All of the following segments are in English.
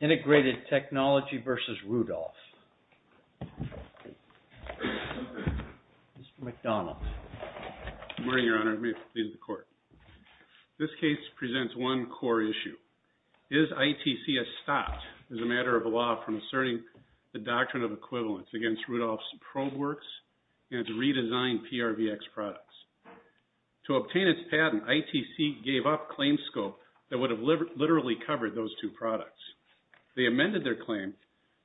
INTEGRATED TECHNOLOGY v. RUDOLPH Mr. McDonald. Good morning, Your Honor. May it please the Court. This case presents one core issue. Is ITC a stop as a matter of law from asserting the doctrine of equivalence against Rudolph's probe works and its redesigned PRVX products? To obtain its patent, ITC gave up claims scope that would have literally covered those two products. They amended their claim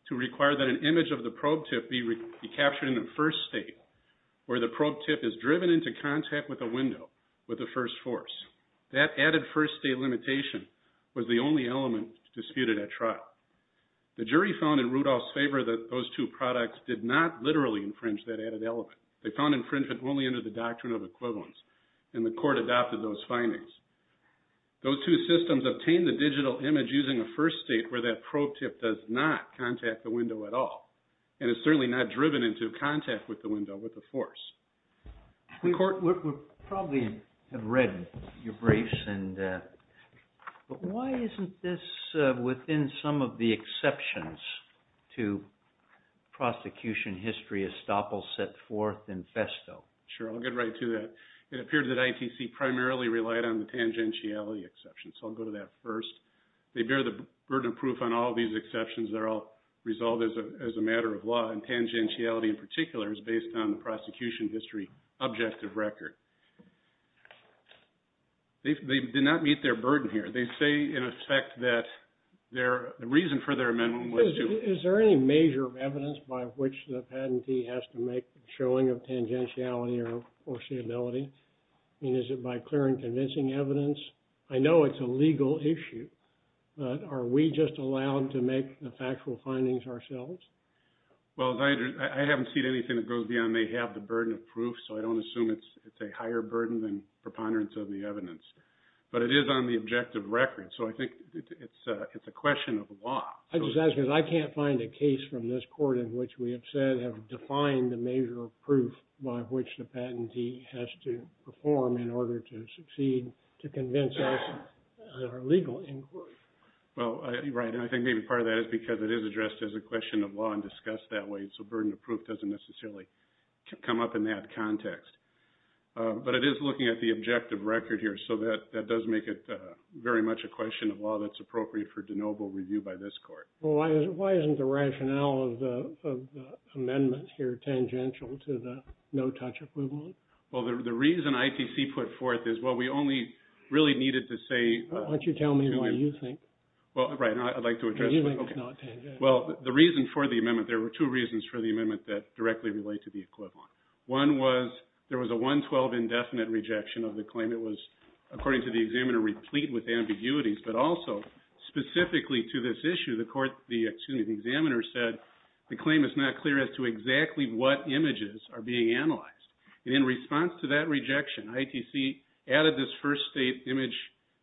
to require that an image of the probe tip be captured in the first state where the probe tip is driven into contact with a window with the first force. That added first state limitation was the only element disputed at trial. The jury found in Rudolph's favor that those two products did not literally infringe that added element. They found infringement only under the doctrine of equivalence. And the Court adopted those findings. Those two systems obtained the digital image using a first state where that probe tip does not contact the window at all. And it's certainly not driven into contact with the window with the force. The Court would probably have read your briefs. But why isn't this within some of the exceptions to prosecution history estoppel set forth in festo? Sure. I'll get right to that. It appeared that ITC primarily relied on the tangentiality exception. So I'll go to that first. They bear the burden of proof on all these exceptions. They're all resolved as a matter of law. And tangentiality in particular is based on the prosecution history objective record. They did not meet their burden here. They say in effect that the reason for their amendment was to... Is there any major evidence by which the patentee has to make a showing of tangentiality or foreseeability? I mean, is it by clear and convincing evidence? I know it's a legal issue. But are we just allowed to make the factual findings ourselves? Well, I haven't seen anything that goes beyond they have the burden of proof. So I don't assume it's a higher burden than preponderance of the evidence. But it is on the objective record. So I think it's a question of law. I just ask because I can't find a case from this Court in which we have said, have defined the major proof by which the patentee has to perform in order to succeed to convince us that are legal inquiry. Well, right. And I think maybe part of that is because it is addressed as a question of law and discussed that way. So burden of proof doesn't necessarily come up in that context. But it is looking at the objective record here. So that does make it very much a question of law that's appropriate for de novo review by this Court. Why isn't the rationale of the amendment here tangential to the no-touch approval? Well, the reason ITC put forth is, well, we only really needed to say... Well, right. I'd like to address... Well, the reason for the amendment, there were two reasons for the amendment that directly relate to the equivalent. One was there was a 112 indefinite rejection of the claim. It was, according to the examiner, replete with ambiguities. But also, specifically to this issue, the examiner said the claim is not clear as to exactly what images are being analyzed. And in response to that rejection, ITC added this first state image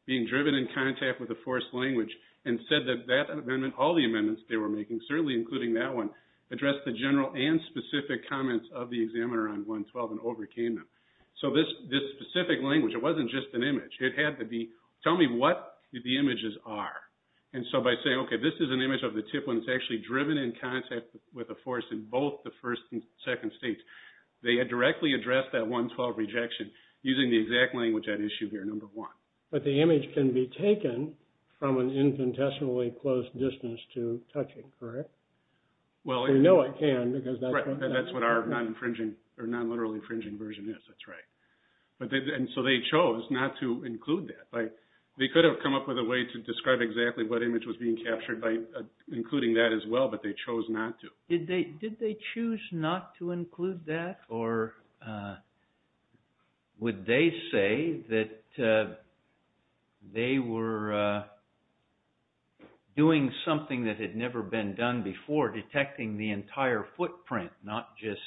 being driven in contact with a forced language and said that that amendment, all the amendments they were making, certainly including that one, addressed the general and specific comments of the examiner on 112 and overcame them. So this specific language, it wasn't just an image. It had to be, tell me what the images are. And so by saying, okay, this is an image of the tip when it's actually driven in contact with a force in both the first and second states. They had directly addressed that 112 rejection using the exact language at issue here, number one. But the image can be taken from an infinitesimally close distance to touching, correct? Well... We know it can because that's what... Right, that's what our non-infringing or non-literal infringing version is. That's right. And so they chose not to include that. They could have come up with a way to describe exactly what image was being captured by including that as well, but they chose not to. Did they choose not to include that, or would they say that they were doing something that had never been done before, detecting the entire footprint, not just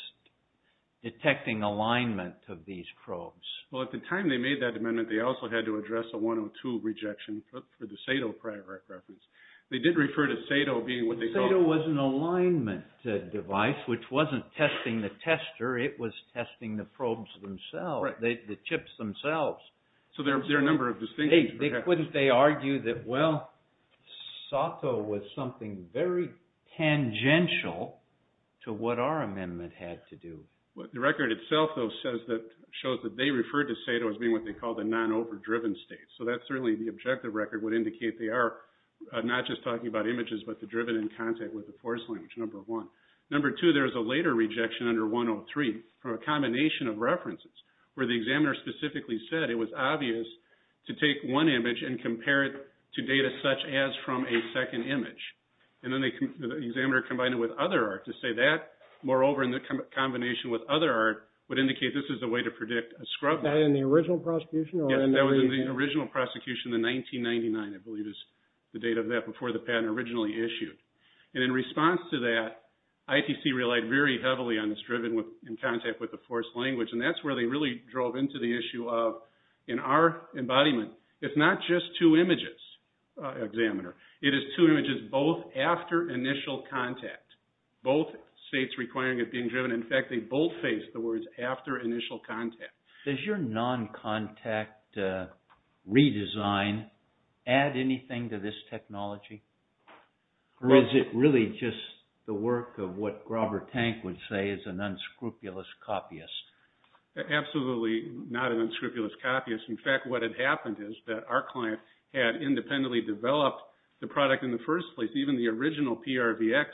detecting alignment of these probes? Well, at the time they made that amendment, they also had to address a 102 rejection for the SATO reference. They did refer to SATO being what they called... The test device, which wasn't testing the tester, it was testing the probes themselves, the chips themselves. So there are a number of distinctions. Couldn't they argue that, well, SATO was something very tangential to what our amendment had to do? The record itself, though, shows that they referred to SATO as being what they called a non-overdriven state. So that's certainly the objective record would indicate they are not just talking about images, but they're driven in contact with the force language, number one. Number two, there's a later rejection under 103 for a combination of references where the examiner specifically said it was obvious to take one image and compare it to data such as from a second image. And then the examiner combined it with other art to say that. Moreover, in the combination with other art would indicate this is a way to predict a scrub. Was that in the original prosecution? Yeah, that was in the original prosecution in 1999, I believe is the date of that, before the patent originally issued. And in response to that, ITC relied very heavily on this driven in contact with the force language. And that's where they really drove into the issue of, in our embodiment, it's not just two images, examiner. It is two images both after initial contact, both states requiring it being driven. In fact, they both face the words after initial contact. Does your non-contact redesign add anything to this technology? Or is it really just the work of what Grover Tank would say is an unscrupulous copyist? Absolutely not an unscrupulous copyist. In fact, what had happened is that our client had independently developed the product in the first place. Even the original PRVX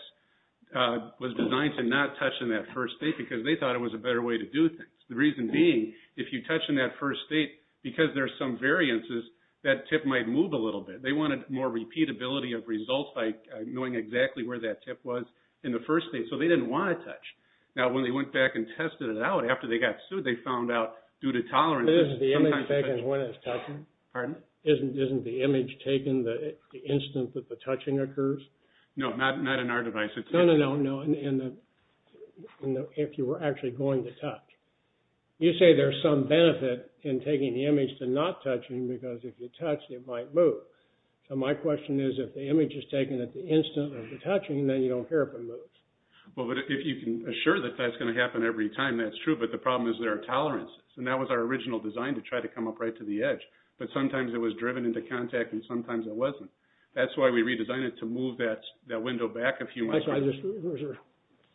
was designed to not touch in that first state because they thought it was a better way to do things. The reason being, if you touch in that first state, because there are some variances, that tip might move a little bit. They wanted more repeatability of results by knowing exactly where that tip was in the first state. So they didn't want to touch. Now when they went back and tested it out after they got sued, they found out due to tolerance… Isn't the image taken when it's touching? Isn't the image taken the instant that the touching occurs? No, not in our device. No, no, no. If you were actually going to touch. You say there's some benefit in taking the image to not touching because if you touch it might move. So my question is if the image is taken at the instant of the touching, then you don't care if it moves. Well, but if you can assure that that's going to happen every time, that's true. But the problem is there are tolerances. And that was our original design to try to come up right to the edge. But sometimes it was driven into contact and sometimes it wasn't. That's why we redesigned it to move that window back a few miles.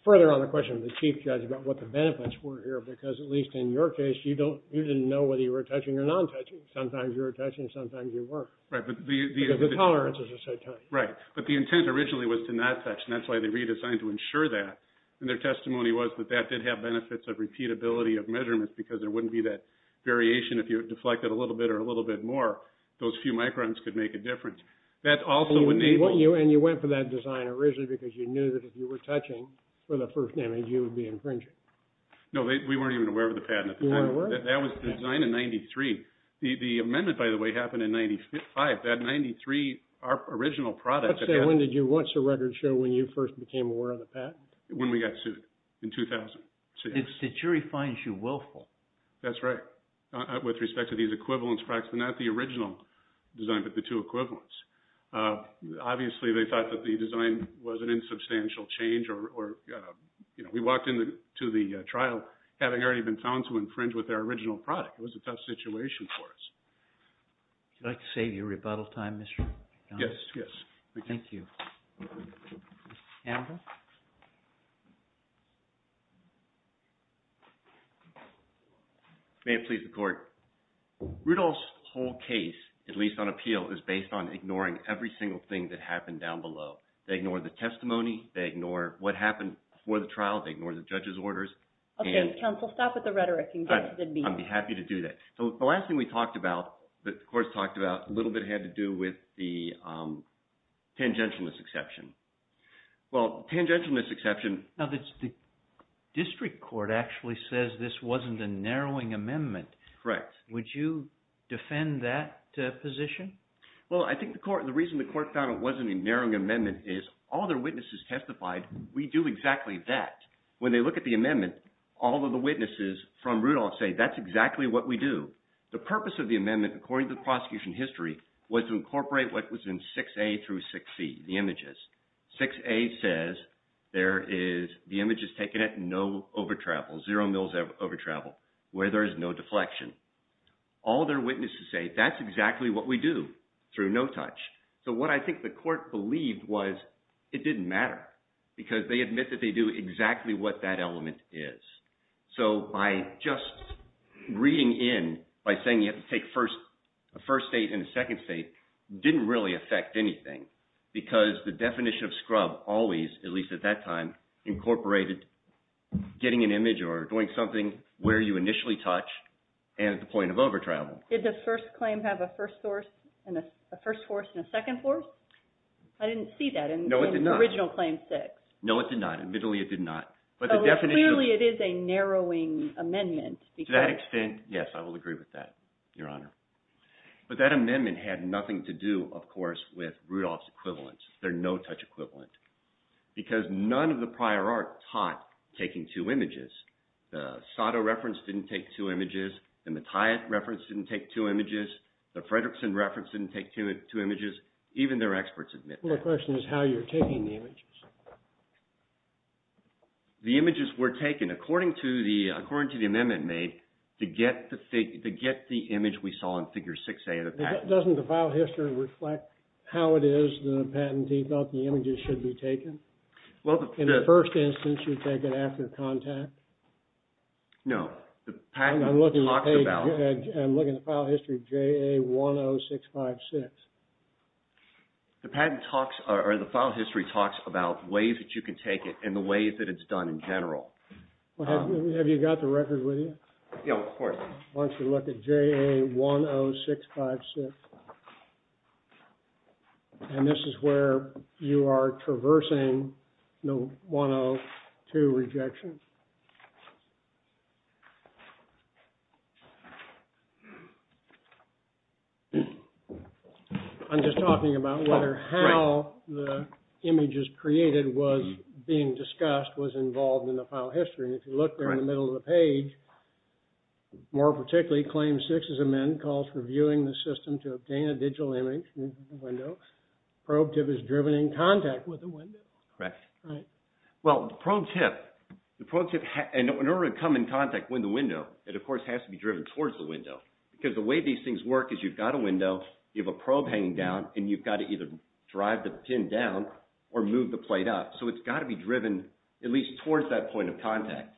Further on the question of the chief judge about what the benefits were here because at least in your case, you didn't know whether you were touching or non-touching. Sometimes you were touching, sometimes you weren't. Because the tolerances are so tight. Right, but the intent originally was to not touch. And that's why they redesigned to ensure that. And their testimony was that that did have benefits of repeatability of measurements because there wouldn't be that variation if you deflected a little bit or a little bit more. Those few microns could make a difference. That also would enable. And you went for that design originally because you knew that if you were touching for the first image, you would be infringing. No, we weren't even aware of the patent at the time. You weren't aware? That was designed in 93. The amendment, by the way, happened in 95. That 93 original product. Let's say, when did you, what's the record show when you first became aware of the patent? When we got sued in 2006. The jury finds you willful. That's right. With respect to these equivalents, not the original design, but the two equivalents. Obviously, they thought that the design was an insubstantial change or, you know, we walked into the trial having already been found to infringe with their original product. It was a tough situation for us. Would you like to save your rebuttal time, Mr. McDonald? Yes, yes. Thank you. Andrew? May it please the Court. Rudolph's whole case, at least on appeal, is based on ignoring every single thing that happened down below. They ignore the testimony. They ignore what happened before the trial. They ignore the judge's orders. Okay, counsel, stop with the rhetoric. Don't do that. So, the last thing we talked about, that the Court's talked about, a little bit had to do with the tangentialness exception. Well, tangentialness exception… Now, the district court actually says this wasn't a narrowing amendment. Correct. Would you defend that position? Well, I think the Court, the reason the Court found it wasn't a narrowing amendment is all their witnesses testified, we do exactly that. When they look at the amendment, all of the witnesses from Rudolph say that's exactly what we do. The purpose of the amendment, according to the prosecution history, was to incorporate what was in 6A through 6C, the images. 6A says there is, the image is taken at no over-travel, zero mils over-travel, where there is no deflection. All their witnesses say that's exactly what we do through no touch. So, what I think the Court believed was it didn't matter because they admit that they do exactly what that element is. So, by just reading in, by saying you have to take a first state and a second state, didn't really affect anything because the definition of scrub always, at least at that time, incorporated getting an image or doing something where you initially touch and at the point of over-travel. Did the first claim have a first source, a first force and a second force? I didn't see that in original claim 6. No, it did not. Admittedly, it did not. Clearly, it is a narrowing amendment. To that extent, yes, I will agree with that, Your Honor. But that amendment had nothing to do, of course, with Rudolph's equivalence, their no-touch equivalent. Because none of the prior art taught taking two images. The Sato reference didn't take two images. The Mattiatt reference didn't take two images. The Fredrickson reference didn't take two images. Even their experts admit that. My question is how you're taking the images. The images were taken according to the amendment made to get the image we saw in Figure 6A. Doesn't the file history reflect how it is the patentee felt the images should be taken? In the first instance, you take it after contact? No. I'm looking at the file history of JA10656. The patent talks, or the file history talks about ways that you can take it and the ways that it's done in general. Have you got the record with you? Yeah, of course. Why don't you look at JA10656. And this is where you are traversing the 102 rejection. I'm just talking about whether how the images created was being discussed was involved in the file history. If you look there in the middle of the page, more particularly, Claim 6 is amended. Calls for viewing the system to obtain a digital image. Probe tip is driven in contact with the window. Correct. The probe tip, in order to come in contact with the window, it of course has to be driven towards the window. Because the way these things work is you've got a window, you have a probe hanging down, and you've got to either drive the pin down or move the plate up. So it's got to be driven at least towards that point of contact.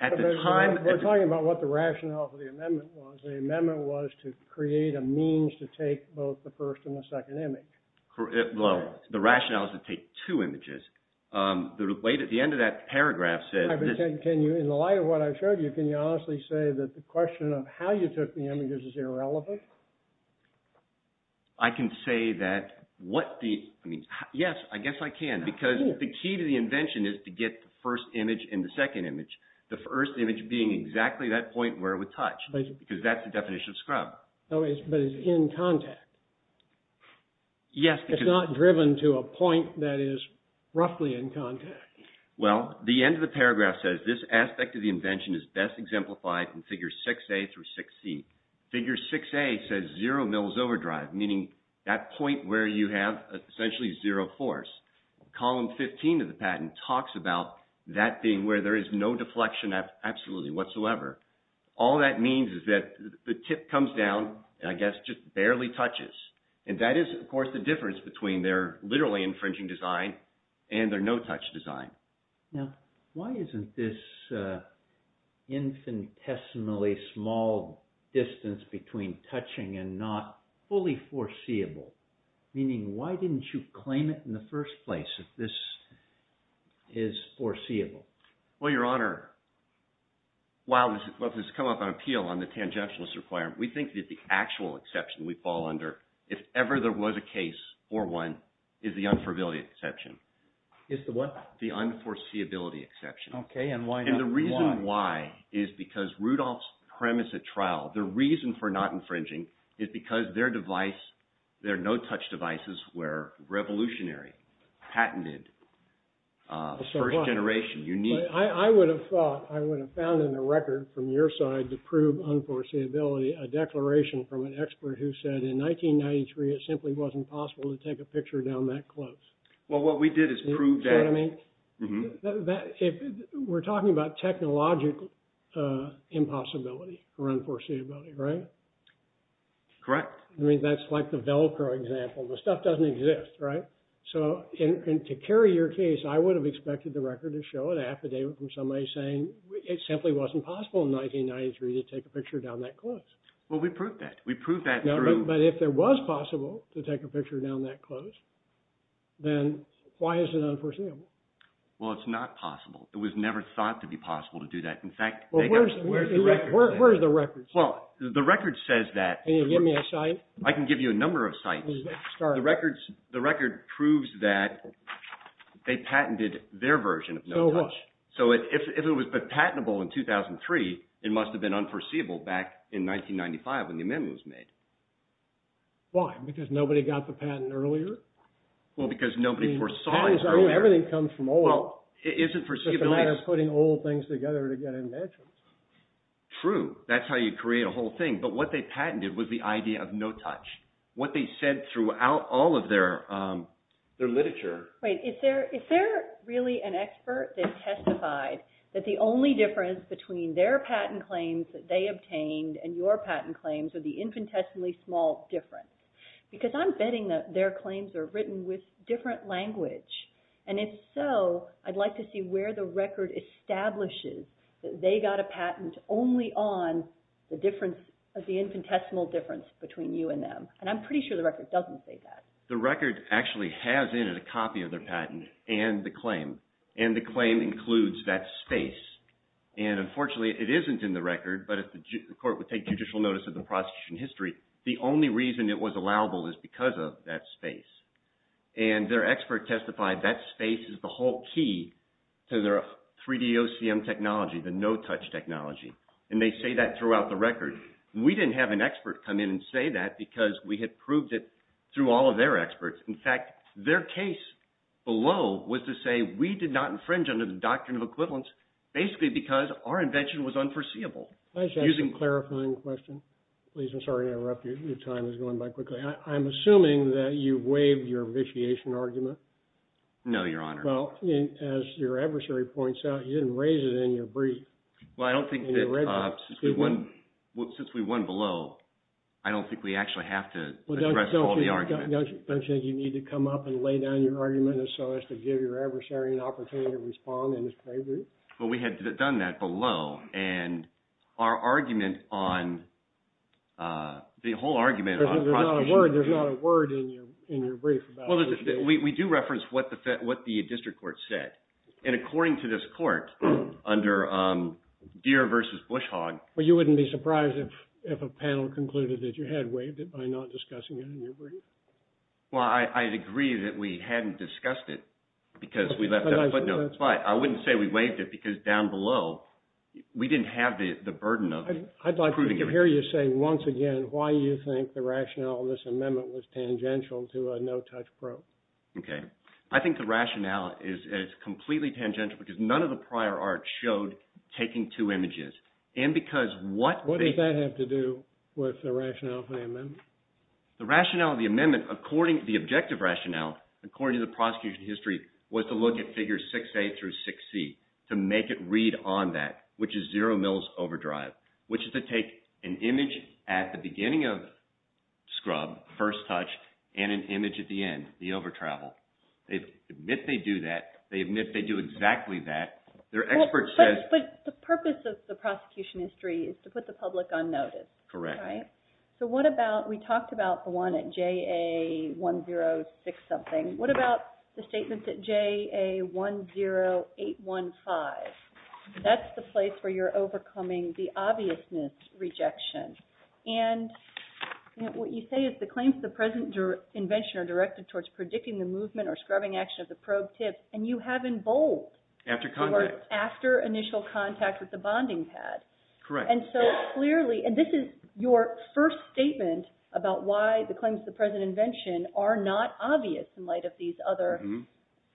We're talking about what the rationale for the amendment was. The amendment was to create a means to take both the first and the second image. Well, the rationale is to take two images. The way that the end of that paragraph says... In the light of what I showed you, can you honestly say that the question of how you took the images is irrelevant? I can say that what the... Yes, I guess I can. Because the key to the invention is to get the first image and the second image. The first image being exactly that point where it would touch. Because that's the definition of scrub. But it's in contact. Yes. It's not driven to a point that is roughly in contact. Well, the end of the paragraph says this aspect of the invention is best exemplified in Figures 6A through 6C. Figure 6A says zero mils overdrive, meaning that point where you have essentially zero force. Column 15 of the patent talks about that being where there is no deflection absolutely whatsoever. All that means is that the tip comes down and I guess just barely touches. And that is, of course, the difference between their literally infringing design and their no-touch design. Now, why isn't this infinitesimally small distance between touching and not fully foreseeable? Meaning, why didn't you claim it in the first place that this is foreseeable? Well, Your Honor, while this has come up on appeal on the tangentialist requirement, we think that the actual exception we fall under, if ever there was a case for one, is the unfavorability exception. Is the what? The unforeseeability exception. Okay, and why not? And the reason why is because Rudolph's premise at trial, the reason for not infringing is because their device, their no-touch devices were revolutionary, patented, first generation, unique. I would have thought, I would have found in the record from your side to prove unforeseeability a declaration from an expert who said in 1993 it simply wasn't possible to take a picture down that close. Well, what we did is prove that. We're talking about technological impossibility or unforeseeability, right? Correct. I mean, that's like the Velcro example. The stuff doesn't exist, right? So, to carry your case, I would have expected the record to show an affidavit from somebody saying it simply wasn't possible in 1993 to take a picture down that close. Well, we proved that. We proved that through… No, but if it was possible to take a picture down that close, then why is it unforeseeable? Well, it's not possible. It was never thought to be possible to do that. In fact… Where's the record? Well, the record says that… Can you give me a cite? I can give you a number of cites. The record proves that they patented their version of no-touch. So, if it was patentable in 2003, it must have been unforeseeable back in 1995 when the amendment was made. Why? Because nobody got the patent earlier? Well, because nobody foresaw it earlier. Everything comes from old. It isn't foreseeable. It's just a matter of putting old things together to get inventions. True. That's how you create a whole thing. But what they patented was the idea of no-touch. What they said throughout all of their literature… Wait. Is there really an expert that testified that the only difference between their patent claims that they obtained and your patent claims are the infinitesimally small difference? Because I'm betting that their claims are written with different language. And if so, I'd like to see where the record establishes that they got a patent only on the infinitesimal difference between you and them. And I'm pretty sure the record doesn't say that. The record actually has in it a copy of their patent and the claim. And the claim includes that space. And unfortunately, it isn't in the record, but if the court would take judicial notice of the prosecution history, the only reason it was allowable is because of that space. And their expert testified that space is the whole key to their 3DOCM technology, the no-touch technology. And they say that throughout the record. We didn't have an expert come in and say that because we had proved it through all of their experts. In fact, their case below was to say we did not infringe under the doctrine of equivalence basically because our invention was unforeseeable. That's actually a clarifying question. Please, I'm sorry to interrupt you. Your time is going by quickly. I'm assuming that you waived your vitiation argument. No, Your Honor. Well, as your adversary points out, you didn't raise it in your brief. Well, I don't think that since we won below, I don't think we actually have to address all the arguments. Do you need to come up and lay down your argument so as to give your adversary an opportunity to respond in his favor? Well, we had done that below. And our argument on – the whole argument on prosecution… There's not a word in your brief about… We do reference what the district court said. And according to this court, under Deere v. Bushog… Well, you wouldn't be surprised if a panel concluded that you had waived it by not discussing it in your brief. I agree that we hadn't discussed it because we left out a footnote. But I wouldn't say we waived it because down below, we didn't have the burden of… I'd like to hear you say once again why you think the rationale of this amendment was tangential to a no-touch probe. Okay. I think the rationale is completely tangential because none of the prior art showed taking two images. And because what… What does that have to do with the rationale of the amendment? The rationale of the amendment, according to the objective rationale, according to the prosecution history, was to look at figures 6A through 6C to make it read on that, which is zero mils overdrive, which is to take an image at the beginning of scrub, first touch, and an image at the end, the overtravel. They admit they do that. They admit they do exactly that. Their expert says… But the purpose of the prosecution history is to put the public on notice. Correct. And we talked about the one at JA106-something. What about the statement at JA10815? That's the place where you're overcoming the obviousness rejection. And what you say is the claims of the present invention are directed towards predicting the movement or scrubbing action of the probe tips, and you have in bold… After contact. …after initial contact with the bonding pad. Correct. And so clearly… And this is your first statement about why the claims of the present invention are not obvious in light of these other…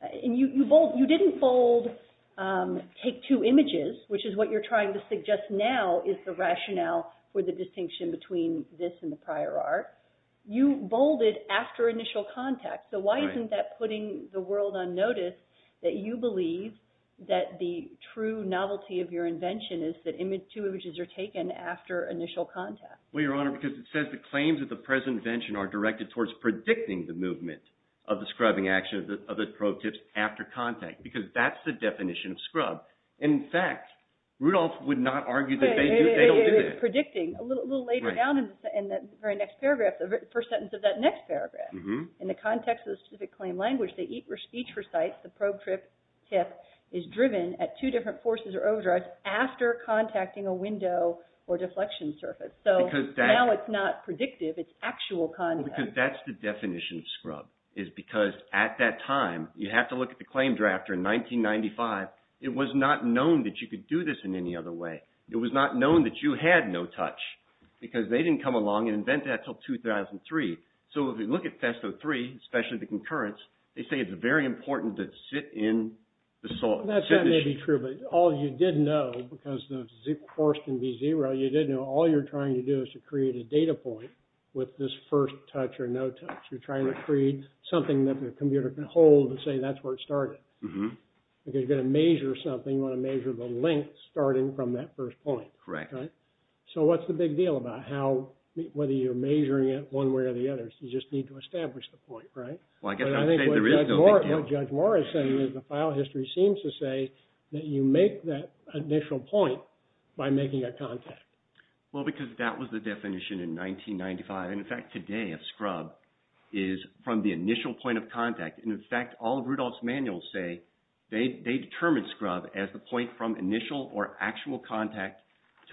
And you didn't bold take two images, which is what you're trying to suggest now is the rationale for the distinction between this and the prior art. You bolded after initial contact. So why isn't that putting the world on notice that you believe that the true novelty of your invention is that two images are taken after initial contact? Well, Your Honor, because it says the claims of the present invention are directed towards predicting the movement of the scrubbing action of the probe tips after contact, because that's the definition of scrub. In fact, Rudolph would not argue that they don't do this. It's predicting. A little later down in the very next paragraph, the first sentence of that next paragraph, in the context of the specific claim language, the speech for sites, the probe tip, is driven at two different forces or overdrives after contacting a window or deflection surface. So now it's not predictive. It's actual contact. Because that's the definition of scrub is because at that time, you have to look at the claim drafter in 1995. It was not known that you could do this in any other way. It was not known that you had no touch because they didn't come along and invent that until 2003. So if you look at Testo-3, especially the concurrence, they say it's very important to sit in the solid. That may be true, but all you did know, because the force can be zero, you did know all you're trying to do is to create a data point with this first touch or no touch. You're trying to create something that the computer can hold and say that's where it started. Because you're going to measure something, you want to measure the length starting from that first point. Correct. So what's the big deal about whether you're measuring it one way or the other? You just need to establish the point, right? Well, I guess I would say there is no big deal. What Judge Morris said is the file history seems to say that you make that initial point by making a contact. Well, because that was the definition in 1995. In fact, today a scrub is from the initial point of contact. In fact, all of Rudolph's manuals say they determined scrub as the point from initial or actual contact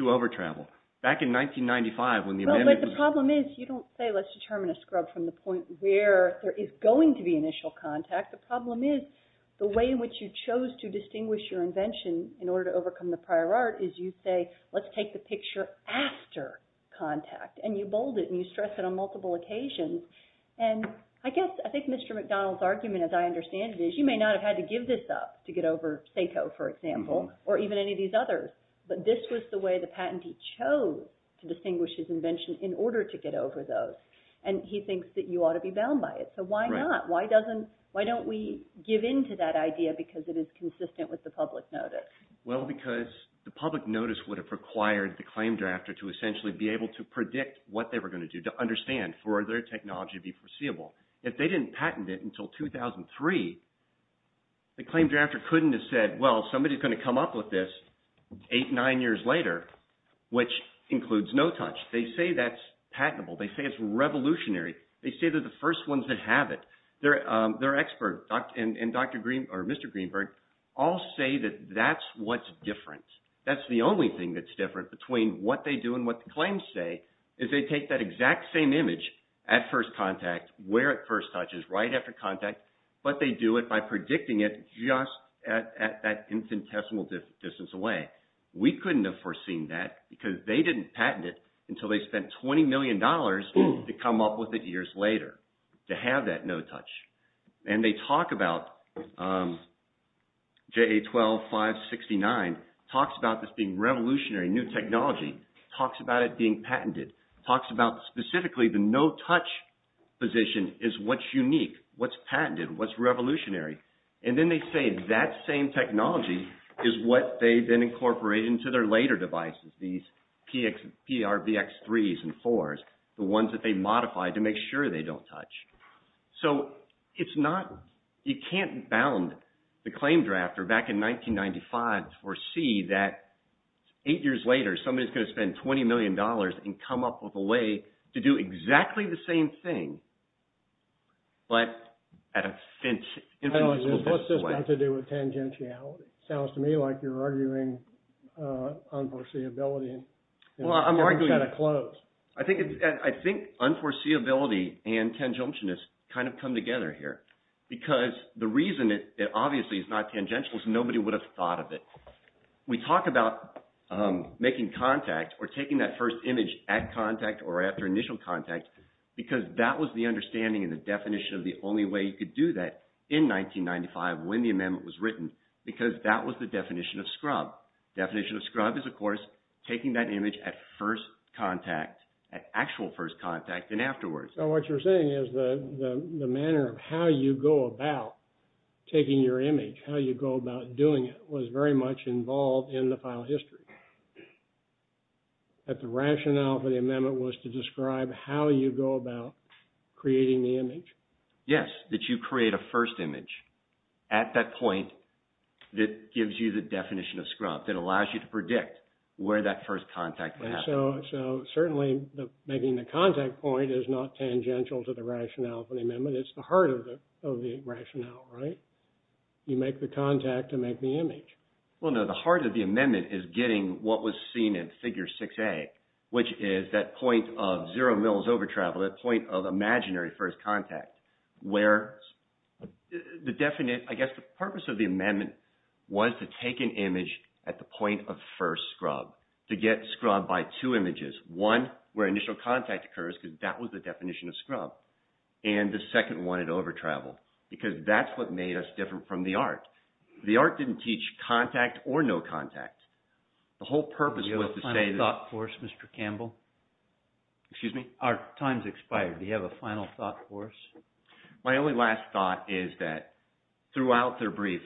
over travel. Back in 1995 when the amendment was… But the problem is you don't say let's determine a scrub from the point where there is going to be initial contact. The problem is the way in which you chose to distinguish your invention in order to overcome the prior art is you say let's take the picture after contact. And you bold it and you stress it on multiple occasions. And I guess, I think Mr. McDonald's argument as I understand it is you may not have had to give this up to get over SACO, for example, or even any of these others. But this was the way the patentee chose to distinguish his invention in order to get over those. And he thinks that you ought to be bound by it. So why not? Why don't we give in to that idea because it is consistent with the public notice? Well, because the public notice would have required the claim drafter to essentially be able to predict what they were going to do to understand for their technology to be foreseeable. If they didn't patent it until 2003, the claim drafter couldn't have said, well, somebody's going to come up with this eight, nine years later, which includes no touch. They say that's patentable. They say it's revolutionary. They say they're the first ones that have it. Their expert and Dr. Greenberg or Mr. Greenberg all say that that's what's different. That's the only thing that's different between what they do and what the claims say is they take that exact same image at first contact where it first touches right after contact, but they do it by predicting it just at that infinitesimal distance away. We couldn't have foreseen that because they didn't patent it until they spent $20 million to come up with it years later to have that no touch. And they talk about JA-12-569, talks about this being revolutionary, new technology, talks about it being patented, talks about specifically the no touch position is what's unique, what's patented, what's revolutionary. And then they say that same technology is what they then incorporate into their later devices, these PRVX-3s and 4s, the ones that they modify to make sure they don't touch. So it's not, you can't bound the claim drafter back in 1995 or see that eight years later, somebody's going to spend $20 million and come up with a way to do exactly the same thing. But at a infinitesimal distance away. What's this got to do with tangentiality? Sounds to me like you're arguing unforeseeability. Well, I'm arguing, I think unforeseeability and tangentialness kind of come together here because the reason it obviously is not tangential is nobody would have thought of it. We talk about making contact or taking that first image at contact or after initial contact because that was the understanding and the definition of the only way you could do that in 1995 when the amendment was written because that was the definition of scrub. Definition of scrub is, of course, taking that image at first contact, at actual first contact and afterwards. So what you're saying is the manner of how you go about taking your image, how you go about doing it was very much involved in the file history. That the rationale for the amendment was to describe how you go about creating the image? Yes, that you create a first image at that point that gives you the definition of scrub, that allows you to predict where that first contact would happen. So certainly making the contact point is not tangential to the rationale for the amendment. It's the heart of the rationale, right? You make the contact to make the image. Well, no, the heart of the amendment is getting what was seen in Figure 6A, which is that point of zero mils over travel, that point of imaginary first contact, where the purpose of the amendment was to take an image at the point of first scrub, to get scrub by two images, one where initial contact occurs because that was the definition of scrub and the second one at over travel because that's what made us different from the art. The art didn't teach contact or no contact. The whole purpose was to say that… Do you have a final thought for us, Mr. Campbell? Excuse me? Our time's expired. Do you have a final thought for us? My only last thought is that throughout their brief,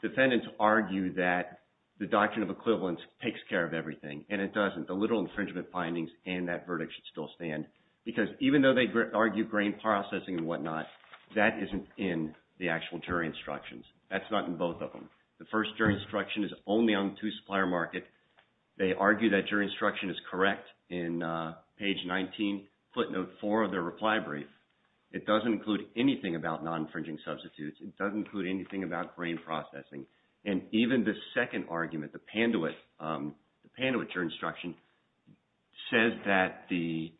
the defendants argue that the doctrine of equivalence takes care of everything and it doesn't. The literal infringement findings and that verdict should still stand because even though they argue grain processing and whatnot, that isn't in the actual jury instructions. That's not in both of them. The first jury instruction is only on two supplier market. They argue that jury instruction is correct in page 19, footnote 4 of their reply brief. It doesn't include anything about non-infringing substitutes. It doesn't include anything about grain processing. And even the second argument, the Panduit jury instruction, says that the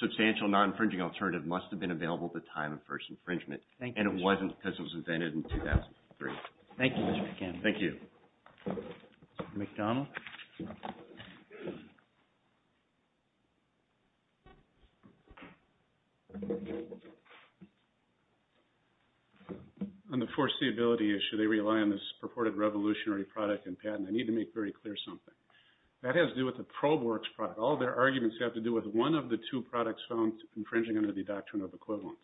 substantial non-infringing alternative must have been available at the time of first infringement. And it wasn't because it was invented in 2003. Thank you, Mr. Campbell. Thank you. Mr. McDonald? On the foreseeability issue, they rely on this purported revolutionary product and patent. I need to make very clear something. That has to do with the ProbeWorks product. All their arguments have to do with one of the two products found infringing under the doctrine of equivalence.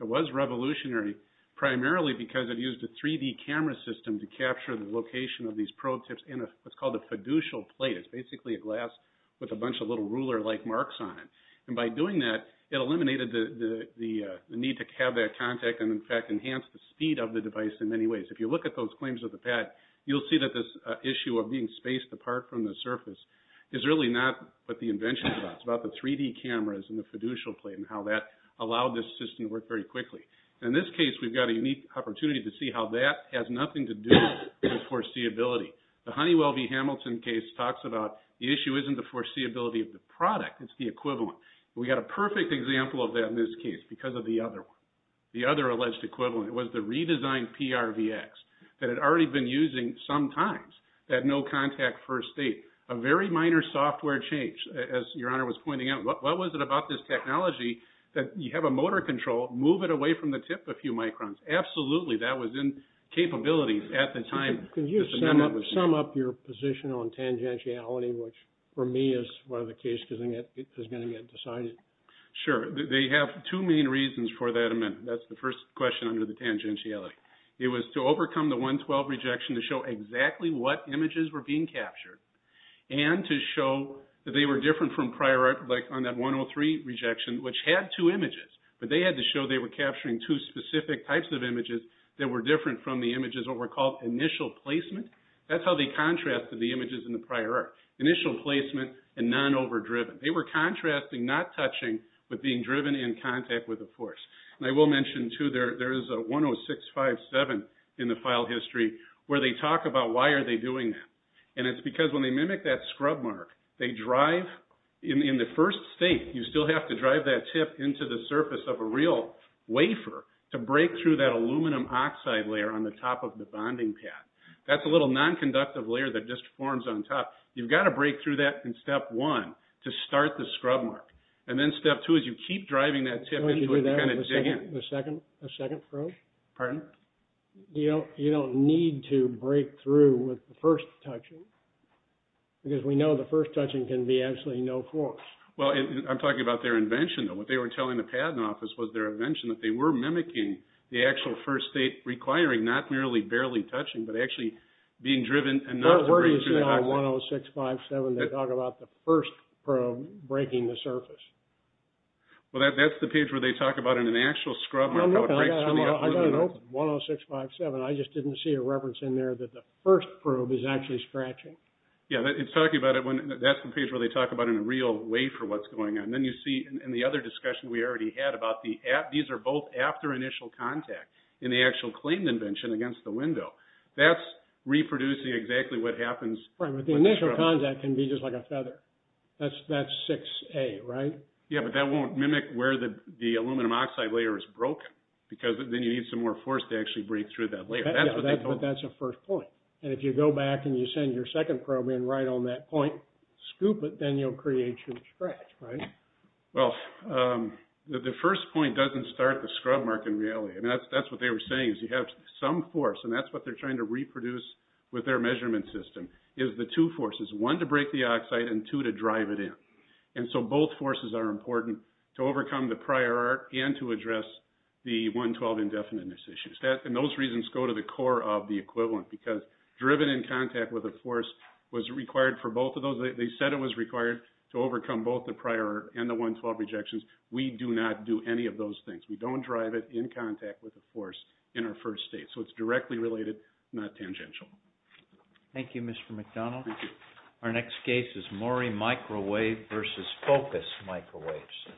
It was revolutionary primarily because it used a 3D camera system to capture the location of these probe tips in what's called a fiducial plate. It's basically a glass with a bunch of little ruler-like marks on it. And by doing that, it eliminated the need to have that contact and, in fact, enhanced the speed of the device in many ways. If you look at those claims of the patent, you'll see that this issue of being spaced apart from the surface is really not what the invention is about. It's about the 3D cameras and the fiducial plate and how that allowed this system to work very quickly. And in this case, we've got a unique opportunity to see how that has nothing to do with foreseeability. The Honeywell v. Hamilton case talks about the issue isn't the foreseeability of the product. It's the equivalent. And we've got a perfect example of that in this case because of the other one, the other alleged equivalent. It was the redesigned PRVX that had already been using sometimes that no-contact first state. A very minor software change, as Your Honor was pointing out. What was it about this technology that you have a motor control, move it away from the tip a few microns? Absolutely, that was in capabilities at the time. Can you sum up your position on tangentiality, which for me is one of the cases that is going to get decided? Sure. They have two main reasons for that amendment. That's the first question under the tangentiality. It was to overcome the 112 rejection to show exactly what images were being captured. And to show that they were different from prior art, like on that 103 rejection, which had two images. But they had to show they were capturing two specific types of images that were different from the images that were called initial placement. That's how they contrasted the images in the prior art. Initial placement and non-overdriven. They were contrasting, not touching, but being driven in contact with a force. And I will mention, too, there is a 10657 in the file history where they talk about why are they doing that. And it's because when they mimic that scrub mark, they drive, in the first state, you still have to drive that tip into the surface of a real wafer to break through that aluminum oxide layer on the top of the bonding pad. That's a little non-conductive layer that just forms on top. You've got to break through that in step one to start the scrub mark. And then step two is you keep driving that tip into it to kind of dig in. The second probe? Pardon? You don't need to break through with the first touching because we know the first touching can be absolutely no force. Well, I'm talking about their invention, though. What they were telling the patent office was their invention, that they were mimicking the actual first state requiring not merely barely touching, but actually being driven and not breaking through the oxide. Where do you see on 10657 they talk about the first probe breaking the surface? Well, that's the page where they talk about it in an actual scrub mark. I've got an open 10657. I just didn't see a reference in there that the first probe is actually scratching. Yeah, it's talking about it. That's the page where they talk about it in a real wafer what's going on. Then you see in the other discussion we already had about these are both after initial contact in the actual claimed invention against the window. That's reproducing exactly what happens. Right, but the initial contact can be just like a feather. That's 6A, right? Yeah, but that won't mimic where the aluminum oxide layer is broken. Because then you need some more force to actually break through that layer. Yeah, but that's a first point. If you go back and you send your second probe in right on that point, scoop it, then you'll create your scratch, right? Well, the first point doesn't start the scrub mark in reality. That's what they were saying is you have some force and that's what they're trying to reproduce with their measurement system is the two forces, one to break the oxide and two to drive it in. Both forces are important to overcome to address the 112 indefiniteness issues. And those reasons go to the core of the equivalent because driven in contact with a force was required for both of those. They said it was required to overcome both the prior and the 112 rejections. We do not do any of those things. We don't drive it in contact with a force in our first state. So it's directly related, not tangential. Thank you, Mr. McDonald. Thank you. Our next case is Mori Microwave versus Focus Microwaves.